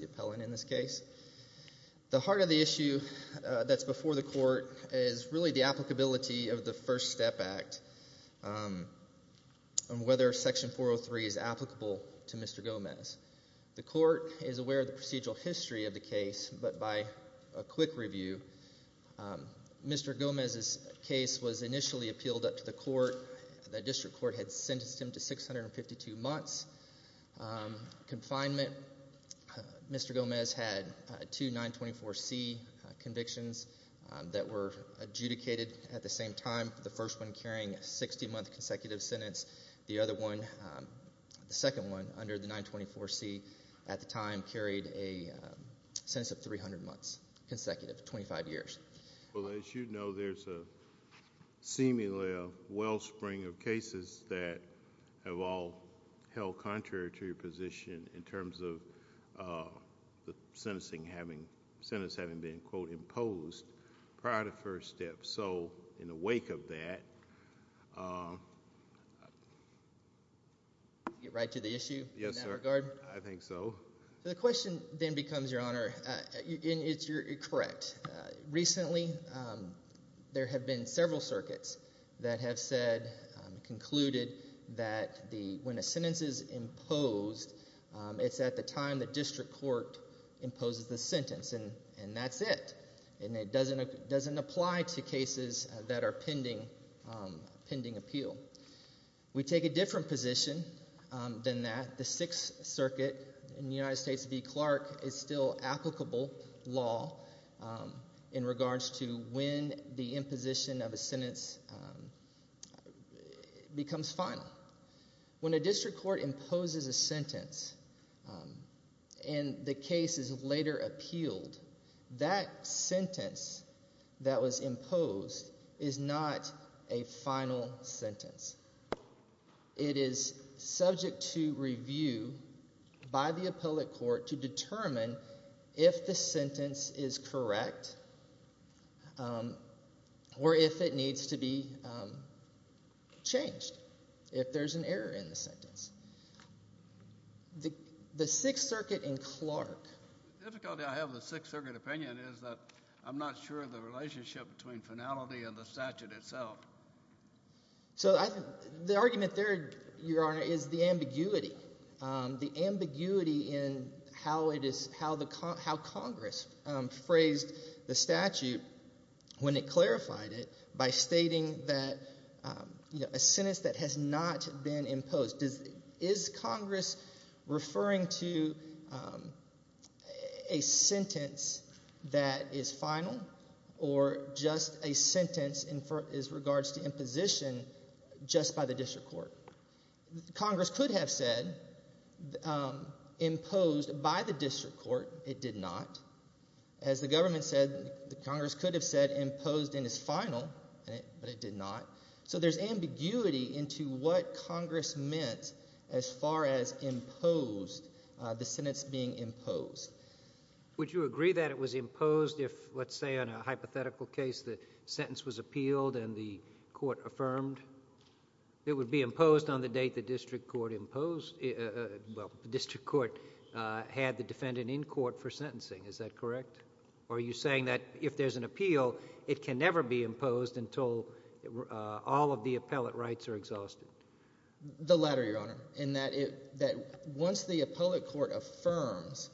the appellant in this case. The heart of the issue that's before the court is really the applicability of the First Step Act and whether Section 403 is applicable to Mr. Gomez. The review. Mr. Gomez's case was initially appealed up to the court. The district court had sentenced him to 652 months confinement. Mr. Gomez had two 924 C convictions that were adjudicated at the same time. The first one carrying a 60 month consecutive sentence. The other one, the second one under the 924 C at the time carried a 300 months consecutive, 25 years. Well as you know there's a seemingly a wellspring of cases that have all held contrary to your position in terms of the sentencing having sentence having been quote imposed prior to First Step. So in the wake of that. Get right to the issue? Yes sir. In that regard? I think so. So the question then becomes your honor. It's correct. Recently there have been several circuits that have said, concluded that when a sentence is imposed it's at the time the district court imposes the sentence and that's it. And it doesn't apply to cases that are pending appeal. We take a different position than that. The Sixth Circuit in the United States in New York is still applicable law in regards to when the imposition of a sentence becomes final. When a district court imposes a sentence and the case is later appealed, that sentence that was imposed is not a final sentence. It is subject to review by the appellate court to determine if the sentence is correct or if it needs to be changed. If there's an error in the sentence. The Sixth Circuit in Clark. The difficulty I have with the Sixth Circuit opinion is that I'm not sure of the relationship between finality and the statute itself. So the argument there your honor is the ambiguity. The ambiguity in how Congress phrased the statute when it clarified it by stating that a sentence that has not been imposed. Is Congress referring to a sentence that is final or just a sentence in regards to imposition just by the district court? Congress could have said imposed by the district court. It did not. As the government said, Congress could have said what Congress meant as far as imposed. The sentence being imposed. Would you agree that it was imposed if let's say on a hypothetical case the sentence was appealed and the court affirmed? It would be imposed on the date the district court imposed. Well, the district court had the defendant in court for sentencing. Is that correct? Are you saying that if there's an appeal, it can never be imposed until all of the appellate rights are exhausted? The latter your honor. Once the appellate court affirms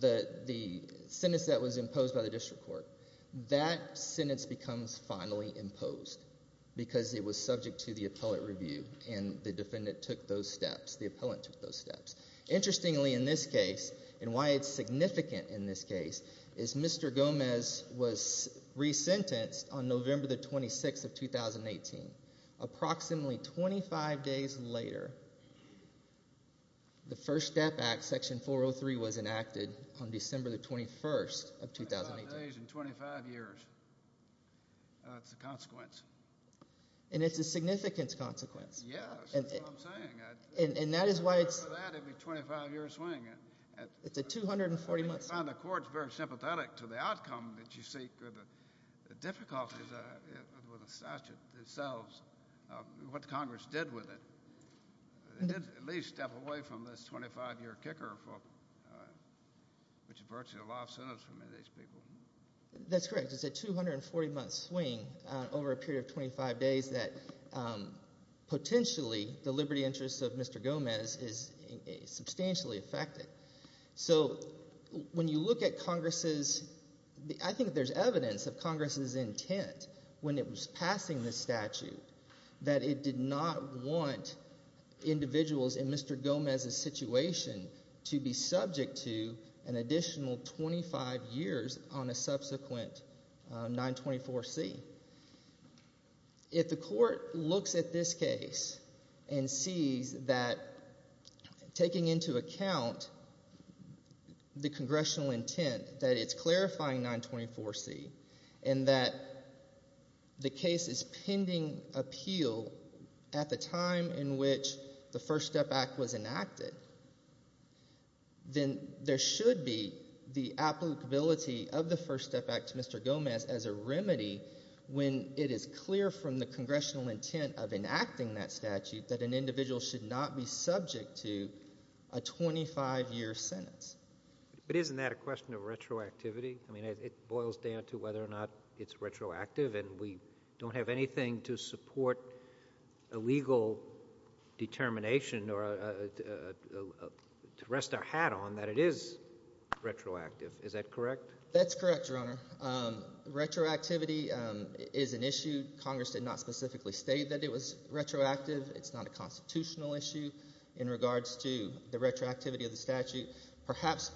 the sentence that was imposed by the district court, that sentence becomes finally imposed because it was subject to the appellate review and the defendant took those steps. The appellate took those steps. Interestingly, in this case, and why it's significant in this case, is Mr. Gomez was resentenced on November the 26th of 2018. Approximately 25 days later, the First Step Act Section 403 was enacted on December the 21st of 2018. 25 days and 25 years. That's the consequence. And it's a significant consequence. Yeah, that's what I'm saying. And that is why it's a 25-year swing. It's a 240-month swing. I find the courts very sympathetic to the outcome that you seek. The difficulties with the statute itself, what Congress did with it, did at least step away from this 25-year kicker, which is virtually a life sentence for many of these people. That's correct. It's a 240-month swing over a period of 25 days that potentially the liberty interests of Mr. Gomez is substantially affected. So when you look at Congress's, I think there's evidence of Congress's intent when it was passing this statute that it did not want individuals in Mr. Gomez's situation to be subject to an additional 25 years on a subsequent 924C. If the court looks at this case and sees that taking into account the congressional intent that it's clarifying 924C and that the case is pending appeal at the time in which the First Step Act was enacted, then there should be the applicability of the First Step Act to Mr. Gomez as a remedy when it is clear from the congressional intent of a 25-year sentence. But isn't that a question of retroactivity? It boils down to whether or not it's retroactive, and we don't have anything to support a legal determination or to rest our hat on that it is retroactive. Is that correct? That's correct, Your Honor. Retroactivity is an issue. Congress did not specifically state that it was retroactive. It's not a constitutional issue in regards to the retroactivity of the statute. Perhaps,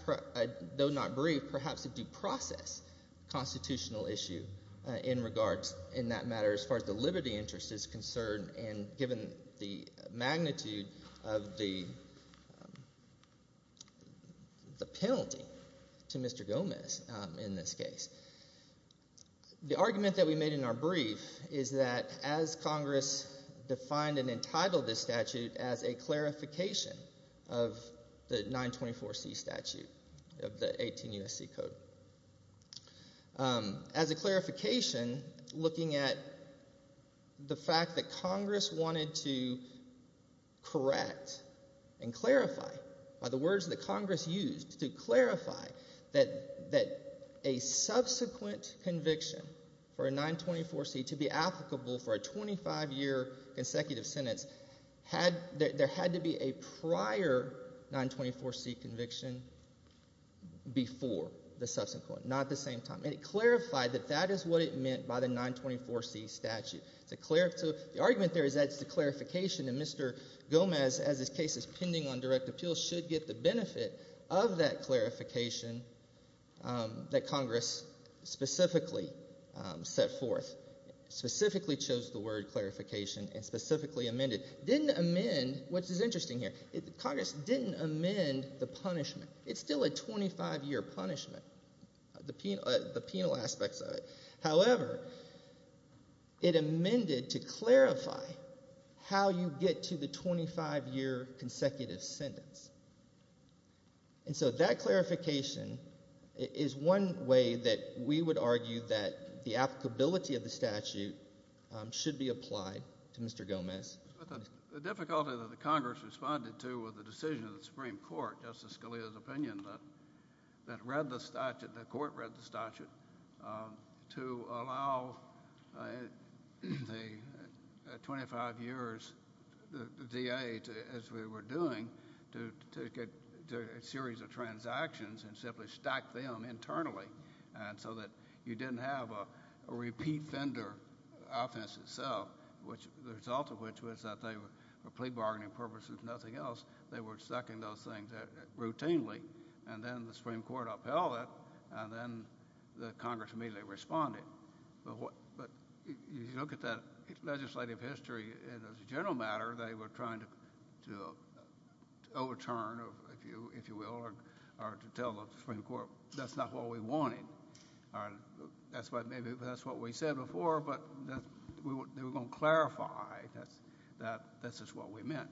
though not brief, perhaps a due process constitutional issue in that matter as far as the liberty interest is concerned and given the magnitude of the penalty to Mr. Gomez in this case. The argument that we made in our brief is that as Congress defined and entitled this statute as a correct and clarify, by the words that Congress used to clarify that a subsequent conviction for a 924C to be applicable for a 25-year consecutive sentence, there had to be a prior 924C conviction before the subsequent, not at the same time. And it clarified that that is what it meant by the 924C statute. The argument there is that it's the clarification that Mr. Gomez, as his case is pending on direct appeal, should get the benefit of that clarification that Congress specifically set forth, specifically chose the word clarification and specifically amended. Didn't amend, which is it amended to clarify how you get to the 25-year consecutive sentence. And so that clarification is one way that we would argue that the applicability of the statute should be applied to Mr. Gomez. The difficulty that the Congress responded to with the decision of the Supreme Court, Justice Scalia's opinion, that read the statute, the court read the statute, to allow the 25 years, the DA, as we were doing, to get a series of transactions and simply stack them internally so that you didn't have a repeat of the same transaction. And so we had the Supreme Court read the statute, and then the Supreme Court, in the case, in the case of the defender, the offense itself, the result of which was that they were plea bargaining purposes, nothing else, they were stacking those things routinely. And then the Supreme Court upheld it, and then the Congress immediately responded. But if you look at that legislative history, as a general matter, they were trying to overturn, if you will, or to tell the Supreme Court, that's not what we wanted. That's why maybe that's what we said before, but they were going to clarify that this is what we meant.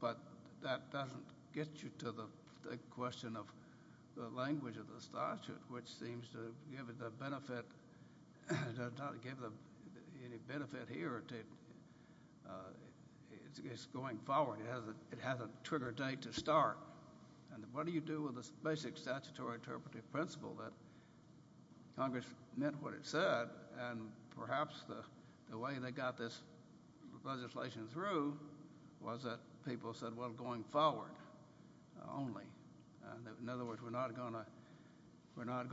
But that doesn't get you to the question of the language of the statute, which seems to give it the impression that it's going forward. It has a trigger date to start. And what do you do with the basic statutory interpretive principle that Congress meant what it said, and perhaps the way they got this legislation through was that people said, well, going forward only. In other words, we're not going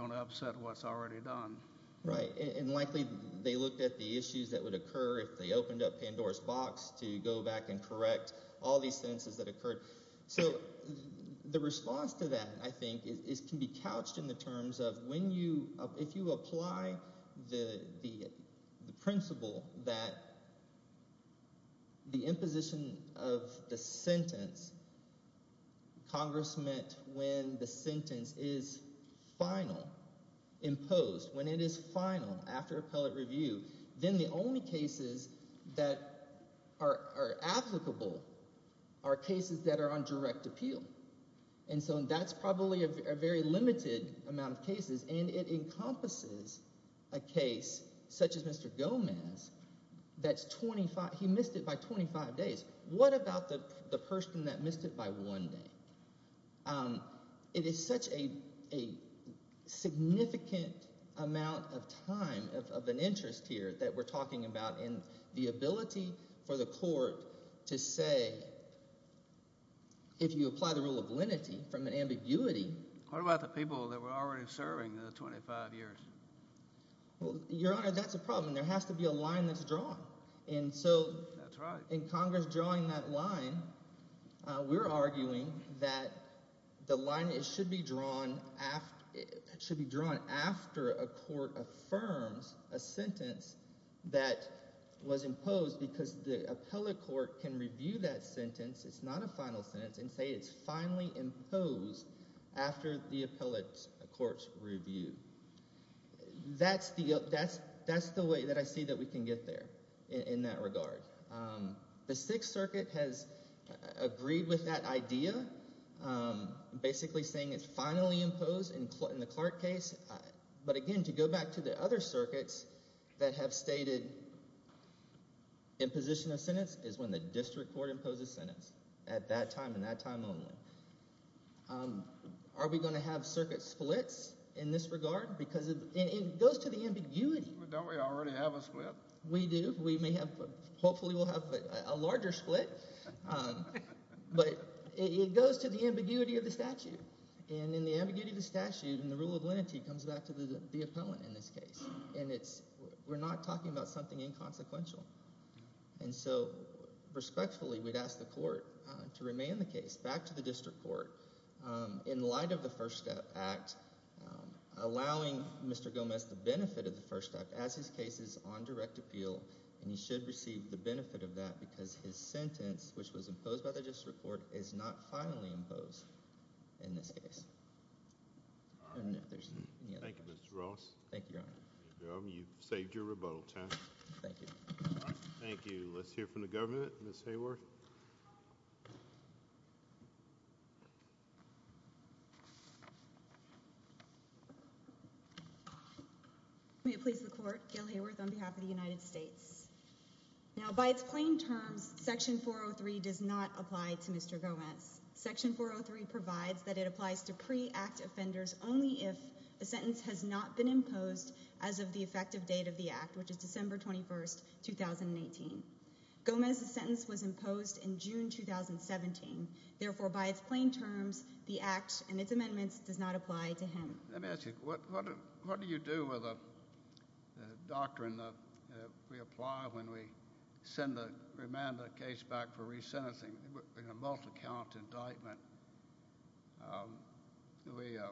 to upset what's already done. Right, and likely they looked at the issues that would occur if they opened up Pandora's box to go back and correct all these sentences that occurred. So the response to that, I think, can be couched in the terms of when you—if you apply the principle that the imposition of the sentence, Congress meant when the sentence is final, imposed, when it is final after appellate review, then the only cases that are applicable are cases that are on direct appeal. And so that's probably a very limited amount of cases, and it encompasses a case such as Mr. Gomez that's 25—he missed it by 25 days. What about the person that missed it by one day? It is such a significant amount of time of an interest here that we're talking about, and the ability for the court to say, if you apply the rule of lenity from an ambiguity— What about the people that were already serving the 25 years? Well, Your Honor, that's a problem. There has to be a line that's drawn. And so— That's right. In Congress drawing that line, we're arguing that the line should be drawn after a court affirms a sentence that was imposed because the appellate court can review that sentence—it's not a final sentence—and say it's finally imposed after the appellate court's review. That's the way that I see that we can get there in that regard. The Sixth Circuit has agreed with that idea, basically saying it's finally imposed in the Clark case. But again, to go back to the other circuits that have stated imposition of sentence is when the district court imposes sentence at that time and that time only. Are we going to have circuit splits in this regard? Because it goes to the ambiguity. Don't we already have a split? We do. We may have—hopefully we'll have a larger split. But it goes to the ambiguity of the statute. And in the ambiguity of the statute and the rule of lenity comes back to the appellant in this case, and it's—we're not talking about something inconsequential. And so, respectfully, we'd ask the court to remain the case, back to the district court, in light of the First Act, allowing Mr. Gomez the benefit of the First Act as his case is on direct appeal, and he should receive the benefit of that because his sentence, which was imposed by the district court, is not finally imposed in this case. Thank you, Mr. Ross. Thank you, Your Honor. You've saved your rebuttal time. Thank you. Thank you. Let's hear from the governor, Ms. Hayworth. May it please the court, Gail Hayworth on behalf of the United States. Now, by its plain terms, Section 403 does not apply to Mr. Gomez. Section 403 provides that it applies to pre-Act offenders only if the sentence has not been imposed as of the effective date of the Act, which is December 21, 2018. Gomez's sentence was imposed in June 2017. Therefore, by its plain terms, the Act and its amendments does not apply to him. Let me ask you, what do you do with the doctrine that we apply when we send the remanded case back for re-sentencing in a multi-count indictment? The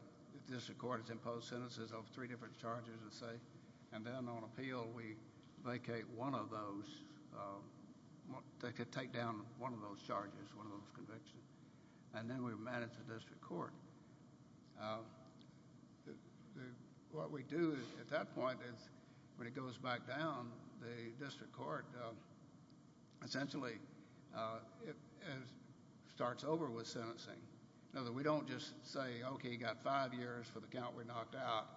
district court has imposed sentences of three different charges, let's say, and then on appeal, we vacate one of those. They could take down one of those charges, one of those convictions, and then we would manage the district court. What we do at that point is when it goes back down, the district court essentially starts over with sentencing. We don't just say, okay, you've got five years for the count we knocked out,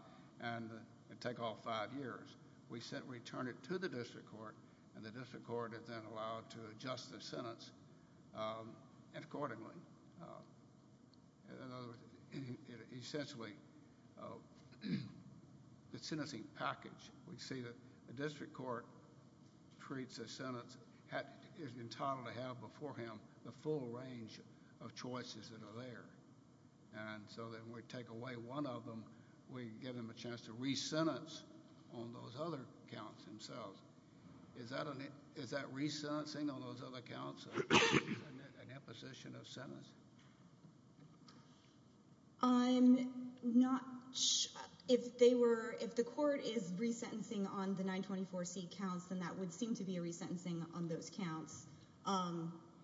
and take off five years. We return it to the district court, and the district court is then allowed to adjust the sentence accordingly. In other words, essentially, the sentencing package, we see that the district court treats a sentence entitled to have before him the full range of choices that are there. When we take away one of them, we give them a chance to re-sentence on those other counts themselves. Is that re-sentencing on those other counts an imposition of sentence? I'm not sure. If the court is re-sentencing on the 924C counts, then that would seem to be a re-sentencing on those counts.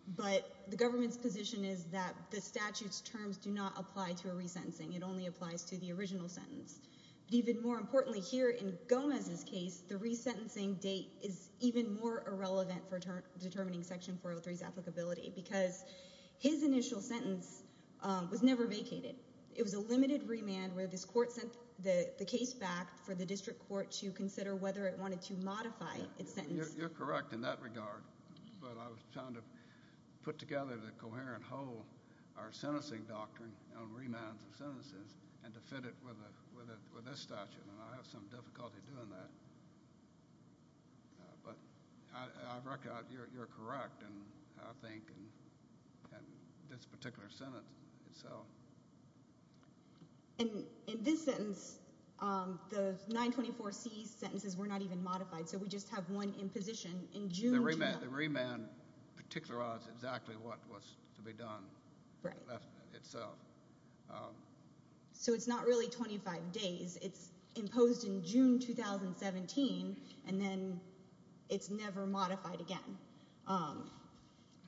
The government's position is that the statute's terms do not apply to a re-sentencing. It only applies to the original sentence. Even more importantly, here in Gomez's case, the re-sentencing date is even more irrelevant for determining Section 403's applicability because his initial sentence was never vacated. It was a limited remand where this court sent the case back for the district court to consider whether it wanted to modify its sentence. You're correct in that regard. But I was trying to put together the coherent whole, our sentencing doctrine on remands of sentences, and to fit it with this statute. And I have some difficulty doing that. But I reckon you're correct, I think, in this particular sentence itself. In this sentence, the 924C sentences were not even modified, so we just have one imposition. The remand particularized exactly what was to be done. So it's not really 25 days. It's imposed in June 2017, and then it's never modified again.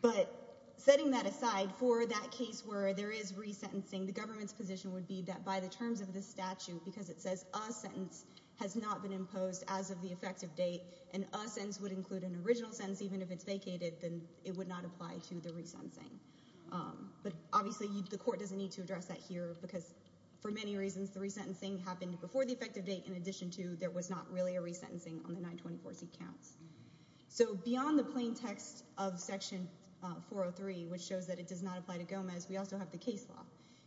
But setting that aside, for that case where there is re-sentencing, the government's position would be that by the terms of this statute, because it says a sentence has not been imposed as of the effective date, and a sentence would include an original sentence even if it's vacated, then it would not apply to the re-sentencing. But obviously the court doesn't need to address that here, because for many reasons the re-sentencing happened before the effective date, in addition to there was not really a re-sentencing on the 924C counts. So beyond the plain text of Section 403, which shows that it does not apply to Gomez, we also have the case law.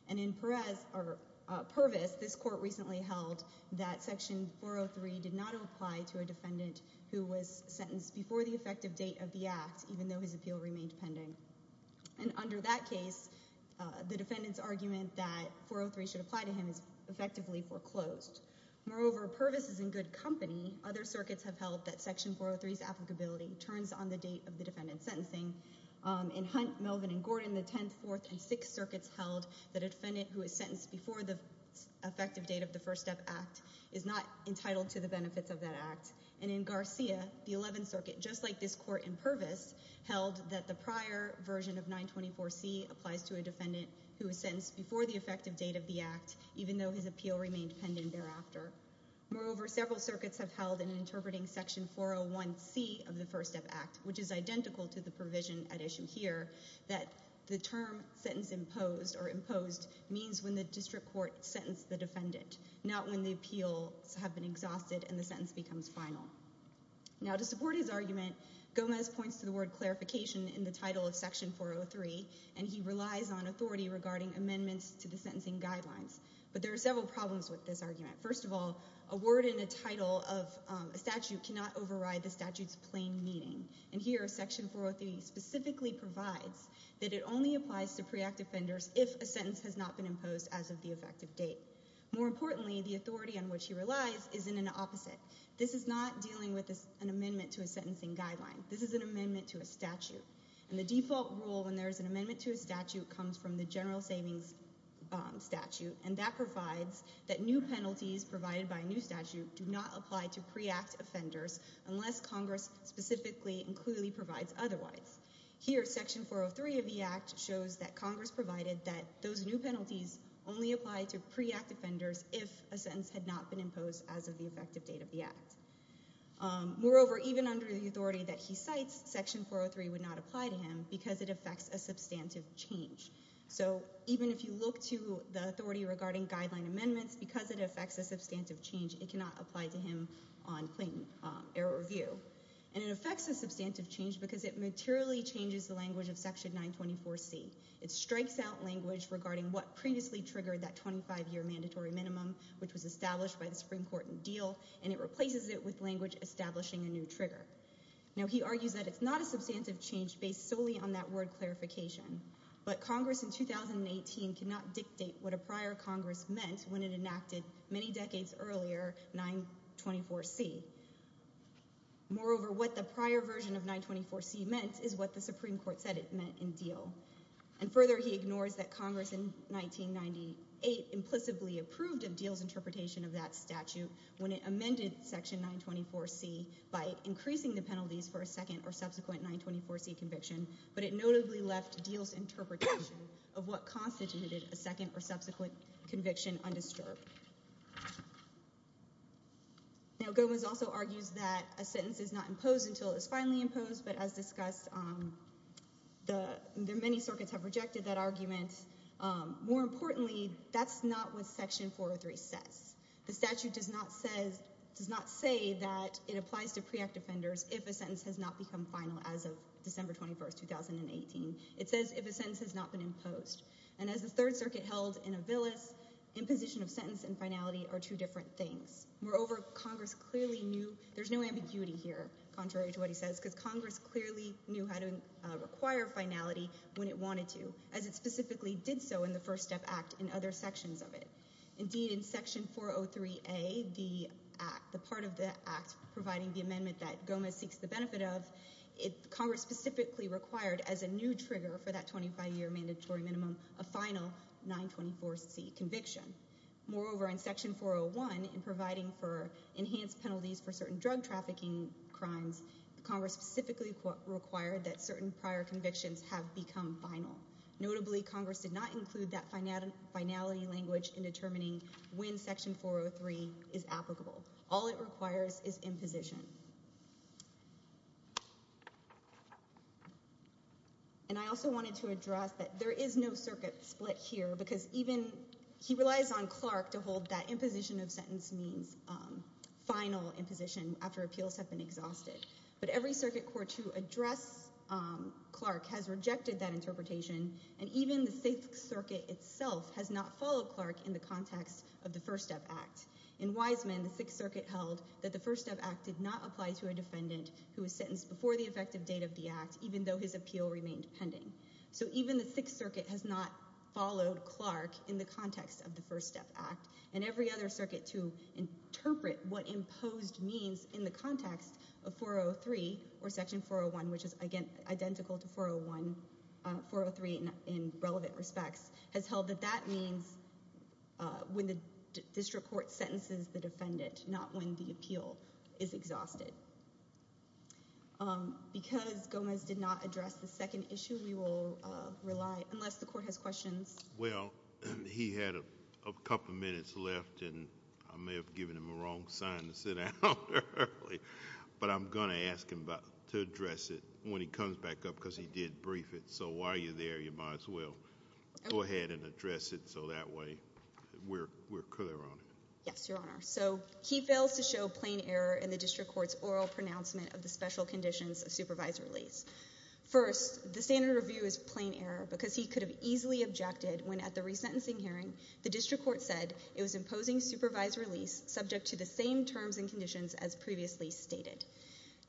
And in Purvis, this court recently held that Section 403 did not apply to a defendant who was sentenced before the effective date of the act, even though his appeal remained pending. And under that case, the defendant's argument that 403 should apply to him is effectively foreclosed. Moreover, Purvis is in good company. Other circuits have held that Section 403's applicability turns on the date of the defendant's sentencing. In Hunt, Melvin, and Gordon, the 10th, 4th, and 6th circuits held that a defendant who is sentenced before the effective date of the First Step Act is not entitled to the benefits of that act. And in Garcia, the 11th circuit, just like this court in Purvis, held that the prior version of 924C applies to a defendant who is sentenced before the effective date of the act, even though his appeal remained pending thereafter. Moreover, several circuits have held in interpreting Section 401C of the First Step Act, which is identical to the provision at issue here, that the term sentence imposed or imposed means when the district court sentenced the defendant, not when the appeals have been exhausted and the sentence becomes final. Now, to support his argument, Gomez points to the word clarification in the title of Section 403, and he relies on authority regarding amendments to the sentencing guidelines. But there are several problems with this argument. First of all, a word in the title of a statute cannot override the statute's plain meaning. And here, Section 403 specifically provides that it only applies to pre-act offenders if a sentence has not been imposed as of the effective date. More importantly, the authority on which he relies is in an opposite. This is not dealing with an amendment to a sentencing guideline. This is an amendment to a statute. And the default rule when there is an amendment to a statute comes from the general savings statute, and that provides that new penalties provided by a new statute do not apply to pre-act offenders unless Congress specifically and clearly provides otherwise. Here, Section 403 of the act shows that Congress provided that those new penalties only apply to pre-act offenders if a sentence had not been imposed as of the effective date of the act. Moreover, even under the authority that he cites, Section 403 would not apply to him because it affects a substantive change. So even if you look to the authority regarding guideline amendments, because it affects a substantive change, it cannot apply to him on plain error review. And it affects a substantive change because it materially changes the language of Section 924C. It strikes out language regarding what previously triggered that 25-year mandatory minimum, which was established by the Supreme Court in Diehl, and it replaces it with language establishing a new trigger. Now, he argues that it's not a substantive change based solely on that word clarification, but Congress in 2018 cannot dictate what a prior Congress meant when it enacted many decades earlier 924C. Moreover, what the prior version of 924C meant is what the Supreme Court said it meant in Diehl. And further, he ignores that Congress in 1998 implicitly approved of Diehl's interpretation of that statute when it amended Section 924C by increasing the penalties for a second or subsequent 924C conviction, but it notably left Diehl's interpretation of what constituted a second or subsequent conviction undisturbed. Now, Gomez also argues that a sentence is not imposed until it is finally imposed, but as discussed, many circuits have rejected that argument. More importantly, that's not what Section 403 says. The statute does not say that it applies to pre-act offenders if a sentence has not become final as of December 21, 2018. It says if a sentence has not been imposed. And as the Third Circuit held in Avilis, imposition of sentence and finality are two different things. Moreover, Congress clearly knew there's no ambiguity here, contrary to what he says, because Congress clearly knew how to require finality when it wanted to, as it specifically did so in the First Step Act and other sections of it. Indeed, in Section 403A, the part of the act providing the amendment that Gomez seeks the benefit of, Congress specifically required as a new trigger for that 25-year mandatory minimum a final 924C conviction. Moreover, in Section 401, in providing for enhanced penalties for certain drug trafficking crimes, Congress specifically required that certain prior convictions have become final. Notably, Congress did not include that finality language in determining when Section 403 is applicable. All it requires is imposition. And I also wanted to address that there is no circuit split here, because he relies on Clark to hold that imposition of sentence means final imposition after appeals have been exhausted. But every circuit court to address Clark has rejected that interpretation, and even the Sixth Circuit itself has not followed Clark in the context of the First Step Act. In Wiseman, the Sixth Circuit held that the First Step Act did not apply to a defendant who was sentenced before the effective date of the act, even though his appeal remained pending. So even the Sixth Circuit has not followed Clark in the context of the First Step Act. And every other circuit to interpret what imposed means in the context of 403 or Section 401, which is identical to 403 in relevant respects, has held that that means when the district court sentences the defendant, not when the appeal is exhausted. Because Gomez did not address the second issue, we will rely, unless the court has questions. Well, he had a couple minutes left, and I may have given him a wrong sign to sit down early. But I'm going to ask him to address it when he comes back up, because he did brief it. So while you're there, you might as well go ahead and address it, so that way we're clear on it. Yes, Your Honor. So he fails to show plain error in the district court's oral pronouncement of the special conditions of supervised release. First, the standard review is plain error, because he could have easily objected when, at the resentencing hearing, the district court said it was imposing supervised release subject to the same terms and conditions as previously stated.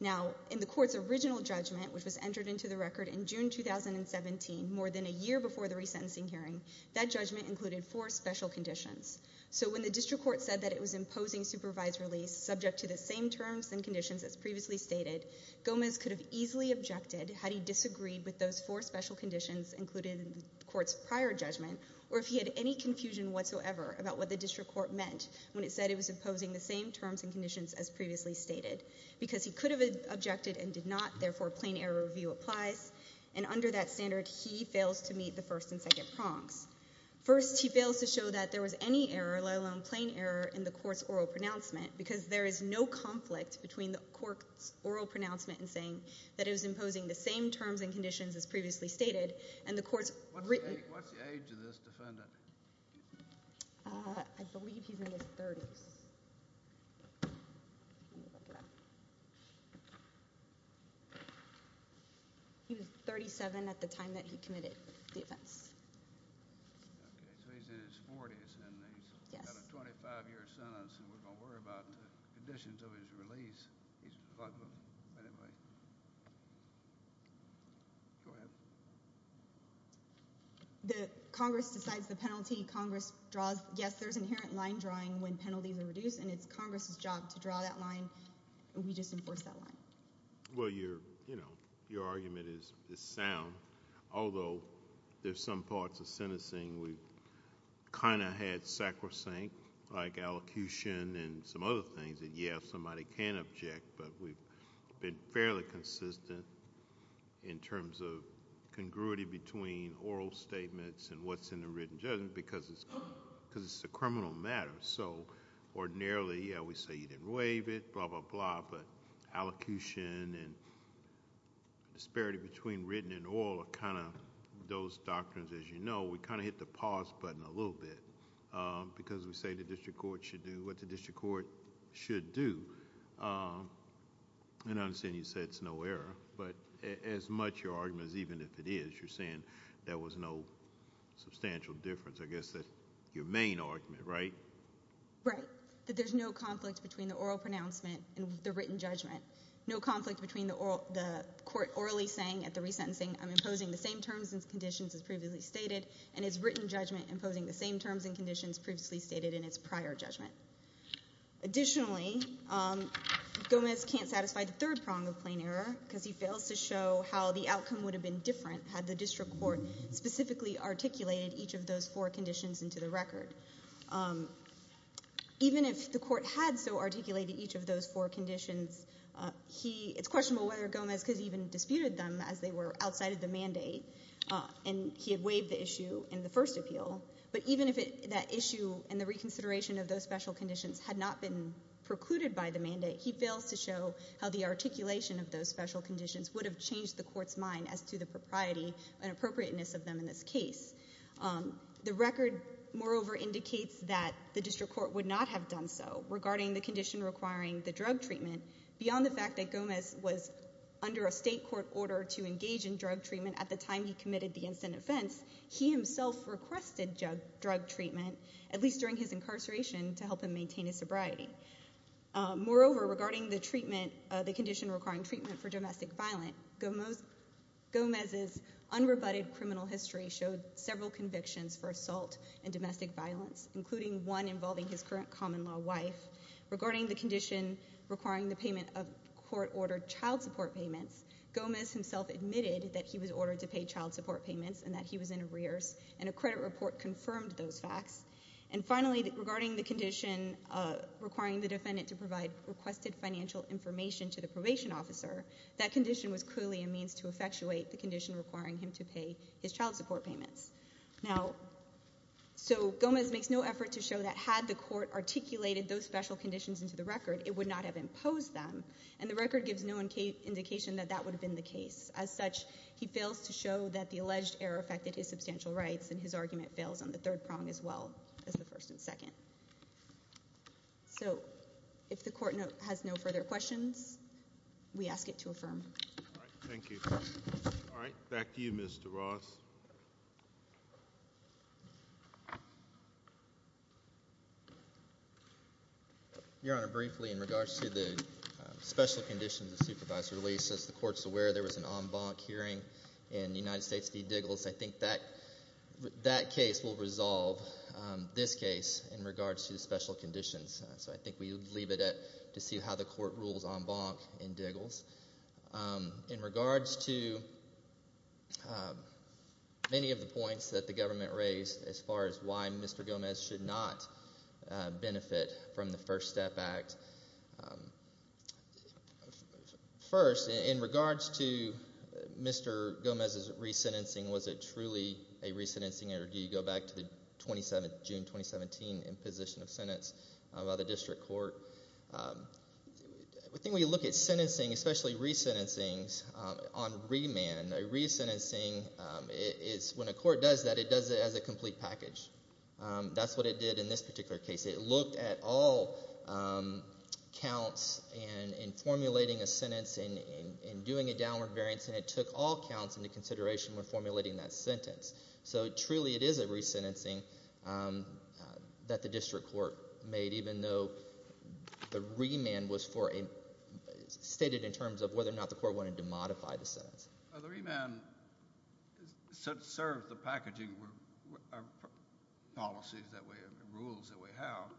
Now, in the court's original judgment, which was entered into the record in June 2017, more than a year before the resentencing hearing, that judgment included four special conditions. So when the district court said that it was imposing supervised release subject to the same terms and conditions as previously stated, Gomez could have easily objected had he disagreed with those four special conditions included in the court's prior judgment, or if he had any confusion whatsoever about what the district court meant when it said it was imposing the same terms and conditions as previously stated. Because he could have objected and did not, therefore plain error review applies. And under that standard, he fails to meet the first and second prongs. First, he fails to show that there was any error, let alone plain error, in the court's oral pronouncement, because there is no conflict between the court's oral pronouncement in saying that it was imposing the same terms and conditions as previously stated, and the court's written- What's the age of this defendant? I believe he's in his 30s. Let me look it up. He was 37 at the time that he committed the offense. Okay, so he's in his 40s, and he's got a 25-year sentence, and we're going to worry about the conditions of his release. Go ahead. Congress decides the penalty. Congress draws. Yes, there's inherent line drawing when penalties are reduced, and it's Congress's job to draw that line. We just enforce that line. Well, your argument is sound, although there's some parts of sentencing we've kind of had sacrosanct, like allocution and some other things that, yes, somebody can object, but we've been fairly consistent in terms of congruity between oral statements and what's in the written judgment because it's a criminal matter. So ordinarily, yeah, we say you didn't waive it, blah, blah, blah, but allocution and disparity between written and oral are kind of those doctrines, as you know. We kind of hit the pause button a little bit because we say the district court should do what the district court should do, and I understand you say it's no error, but as much your argument as even if it is, you're saying there was no substantial difference. I guess that's your main argument, right? Right, that there's no conflict between the oral pronouncement and the written judgment, no conflict between the court orally saying at the resentencing, I'm imposing the same terms and conditions as previously stated, and it's written judgment imposing the same terms and conditions previously stated in its prior judgment. Additionally, Gomez can't satisfy the third prong of plain error because he fails to show how the outcome would have been different had the district court specifically articulated each of those four conditions into the record. Even if the court had so articulated each of those four conditions, it's questionable whether Gomez could have even disputed them as they were outside of the mandate, and he had waived the issue in the first appeal, but even if that issue and the reconsideration of those special conditions had not been precluded by the mandate, he fails to show how the articulation of those special conditions would have changed the court's mind as to the propriety and appropriateness of them in this case. The record, moreover, indicates that the district court would not have done so regarding the condition requiring the drug treatment. Beyond the fact that Gomez was under a state court order to engage in drug treatment at the time he committed the incident offense, he himself requested drug treatment, at least during his incarceration, to help him maintain his sobriety. Moreover, regarding the condition requiring treatment for domestic violence, Gomez's unrebutted criminal history showed several convictions for assault and domestic violence, including one involving his current common-law wife. Regarding the condition requiring the payment of court-ordered child support payments, Gomez himself admitted that he was ordered to pay child support payments and that he was in arrears, and a credit report confirmed those facts. And finally, regarding the condition requiring the defendant to provide requested financial information to the probation officer, that condition was clearly a means to effectuate the condition requiring him to pay his child support payments. Now, so Gomez makes no effort to show that had the court articulated those special conditions into the record, it would not have imposed them, and the record gives no indication that that would have been the case. As such, he fails to show that the alleged error affected his substantial rights, and his argument fails on the third prong as well as the first and second. So if the court has no further questions, we ask it to affirm. Thank you. All right, back to you, Mr. Ross. Your Honor, briefly in regards to the special conditions the supervisor released, as the court's aware there was an en banc hearing in the United States v. Diggles, I think that case will resolve this case in regards to the special conditions. So I think we leave it to see how the court rules en banc in Diggles. In regards to many of the points that the government raised as far as why Mr. Gomez should not benefit from the First Step Act, first, in regards to Mr. Gomez's resentencing, was it truly a resentencing, or do you go back to the June 2017 imposition of sentence by the district court? I think when you look at sentencing, especially resentencings on remand, a resentencing is when a court does that, it does it as a complete package. That's what it did in this particular case. It looked at all counts in formulating a sentence and doing a downward variance, and it took all counts into consideration when formulating that sentence. So truly it is a resentencing that the district court made, even though the remand was stated in terms of whether or not the court wanted to modify the sentence. The remand serves the packaging policies that we have, the rules that we have,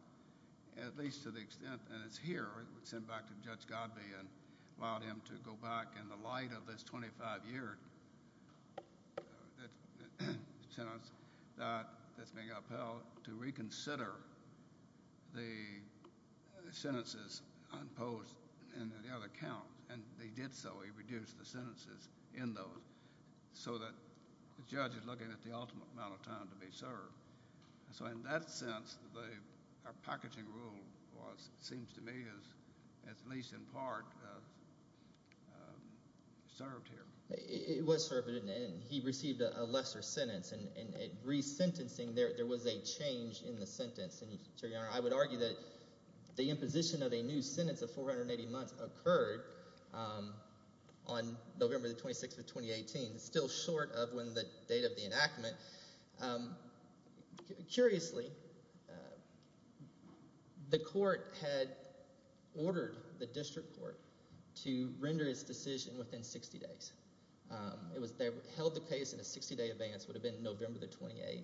at least to the extent that it's here. I sent back to Judge Godbee and allowed him to go back in the light of this 25-year sentence that's being upheld to reconsider the sentences imposed in the other counts, and he did so. He reduced the sentences in those so that the judge is looking at the ultimate amount of time to be served. So in that sense, our packaging rule seems to me, at least in part, served here. It was served, and he received a lesser sentence. In resentencing, there was a change in the sentence. I would argue that the imposition of a new sentence of 480 months occurred on November the 26th of 2018. It's still short of when the date of the enactment. Curiously, the court had ordered the district court to render its decision within 60 days. They held the case in a 60-day advance. It would have been November the 28th.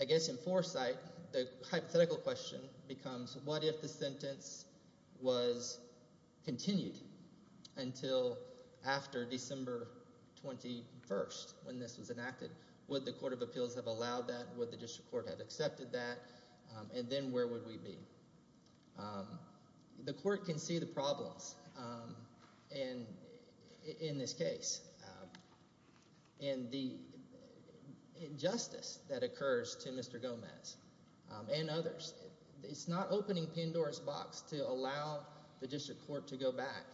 I guess in foresight, the hypothetical question becomes what if the sentence was continued until after December 21st when this was enacted? Would the court of appeals have allowed that? Would the district court have accepted that? And then where would we be? The court can see the problems in this case. And the injustice that occurs to Mr. Gomez and others. It's not opening Pandora's box to allow the district court to go back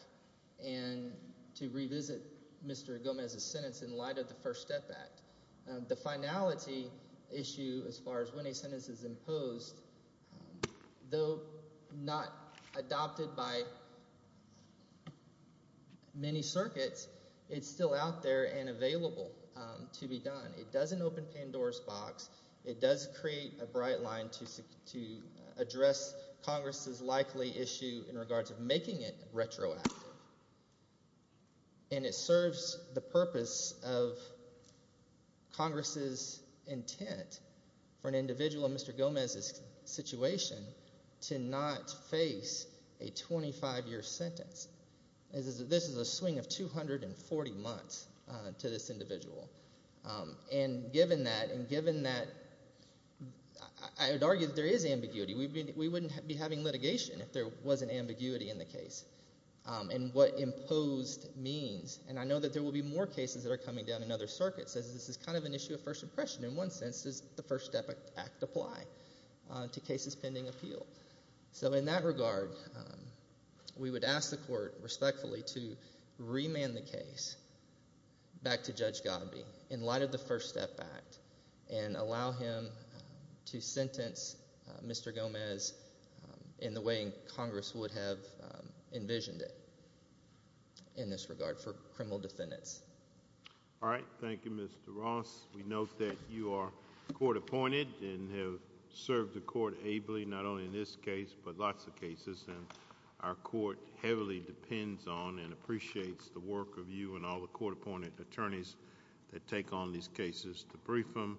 and to revisit Mr. Gomez's sentence in light of the First Step Act. The finality issue as far as when a sentence is imposed, though not adopted by many circuits, it's still out there and available to be done. It doesn't open Pandora's box. It does create a bright line to address Congress's likely issue in regards of making it retroactive. And it serves the purpose of Congress's intent for an individual in Mr. Gomez's situation to not face a 25-year sentence. This is a swing of 240 months to this individual. And given that, I would argue that there is ambiguity. We wouldn't be having litigation if there wasn't ambiguity in the case. And what imposed means. And I know that there will be more cases that are coming down in other circuits as this is kind of an issue of first impression. In one sense, does the First Step Act apply to cases pending appeal? So in that regard, we would ask the court respectfully to remand the case back to Judge Godbee in light of the First Step Act and allow him to sentence Mr. Gomez in the way Congress would have envisioned it in this regard for criminal defendants. All right, thank you, Mr. Ross. We note that you are court appointed and have served the court ably, not only in this case, but lots of cases. And our court heavily depends on and appreciates the work of you and all the court appointed attorneys that take on these cases. To brief them,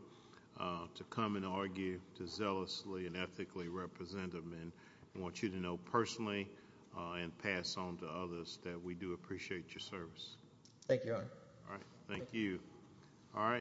to come and argue, to zealously and ethically represent them. And I want you to know personally and pass on to others that we do appreciate your service. Thank you, Your Honor. All right, thank you. All right.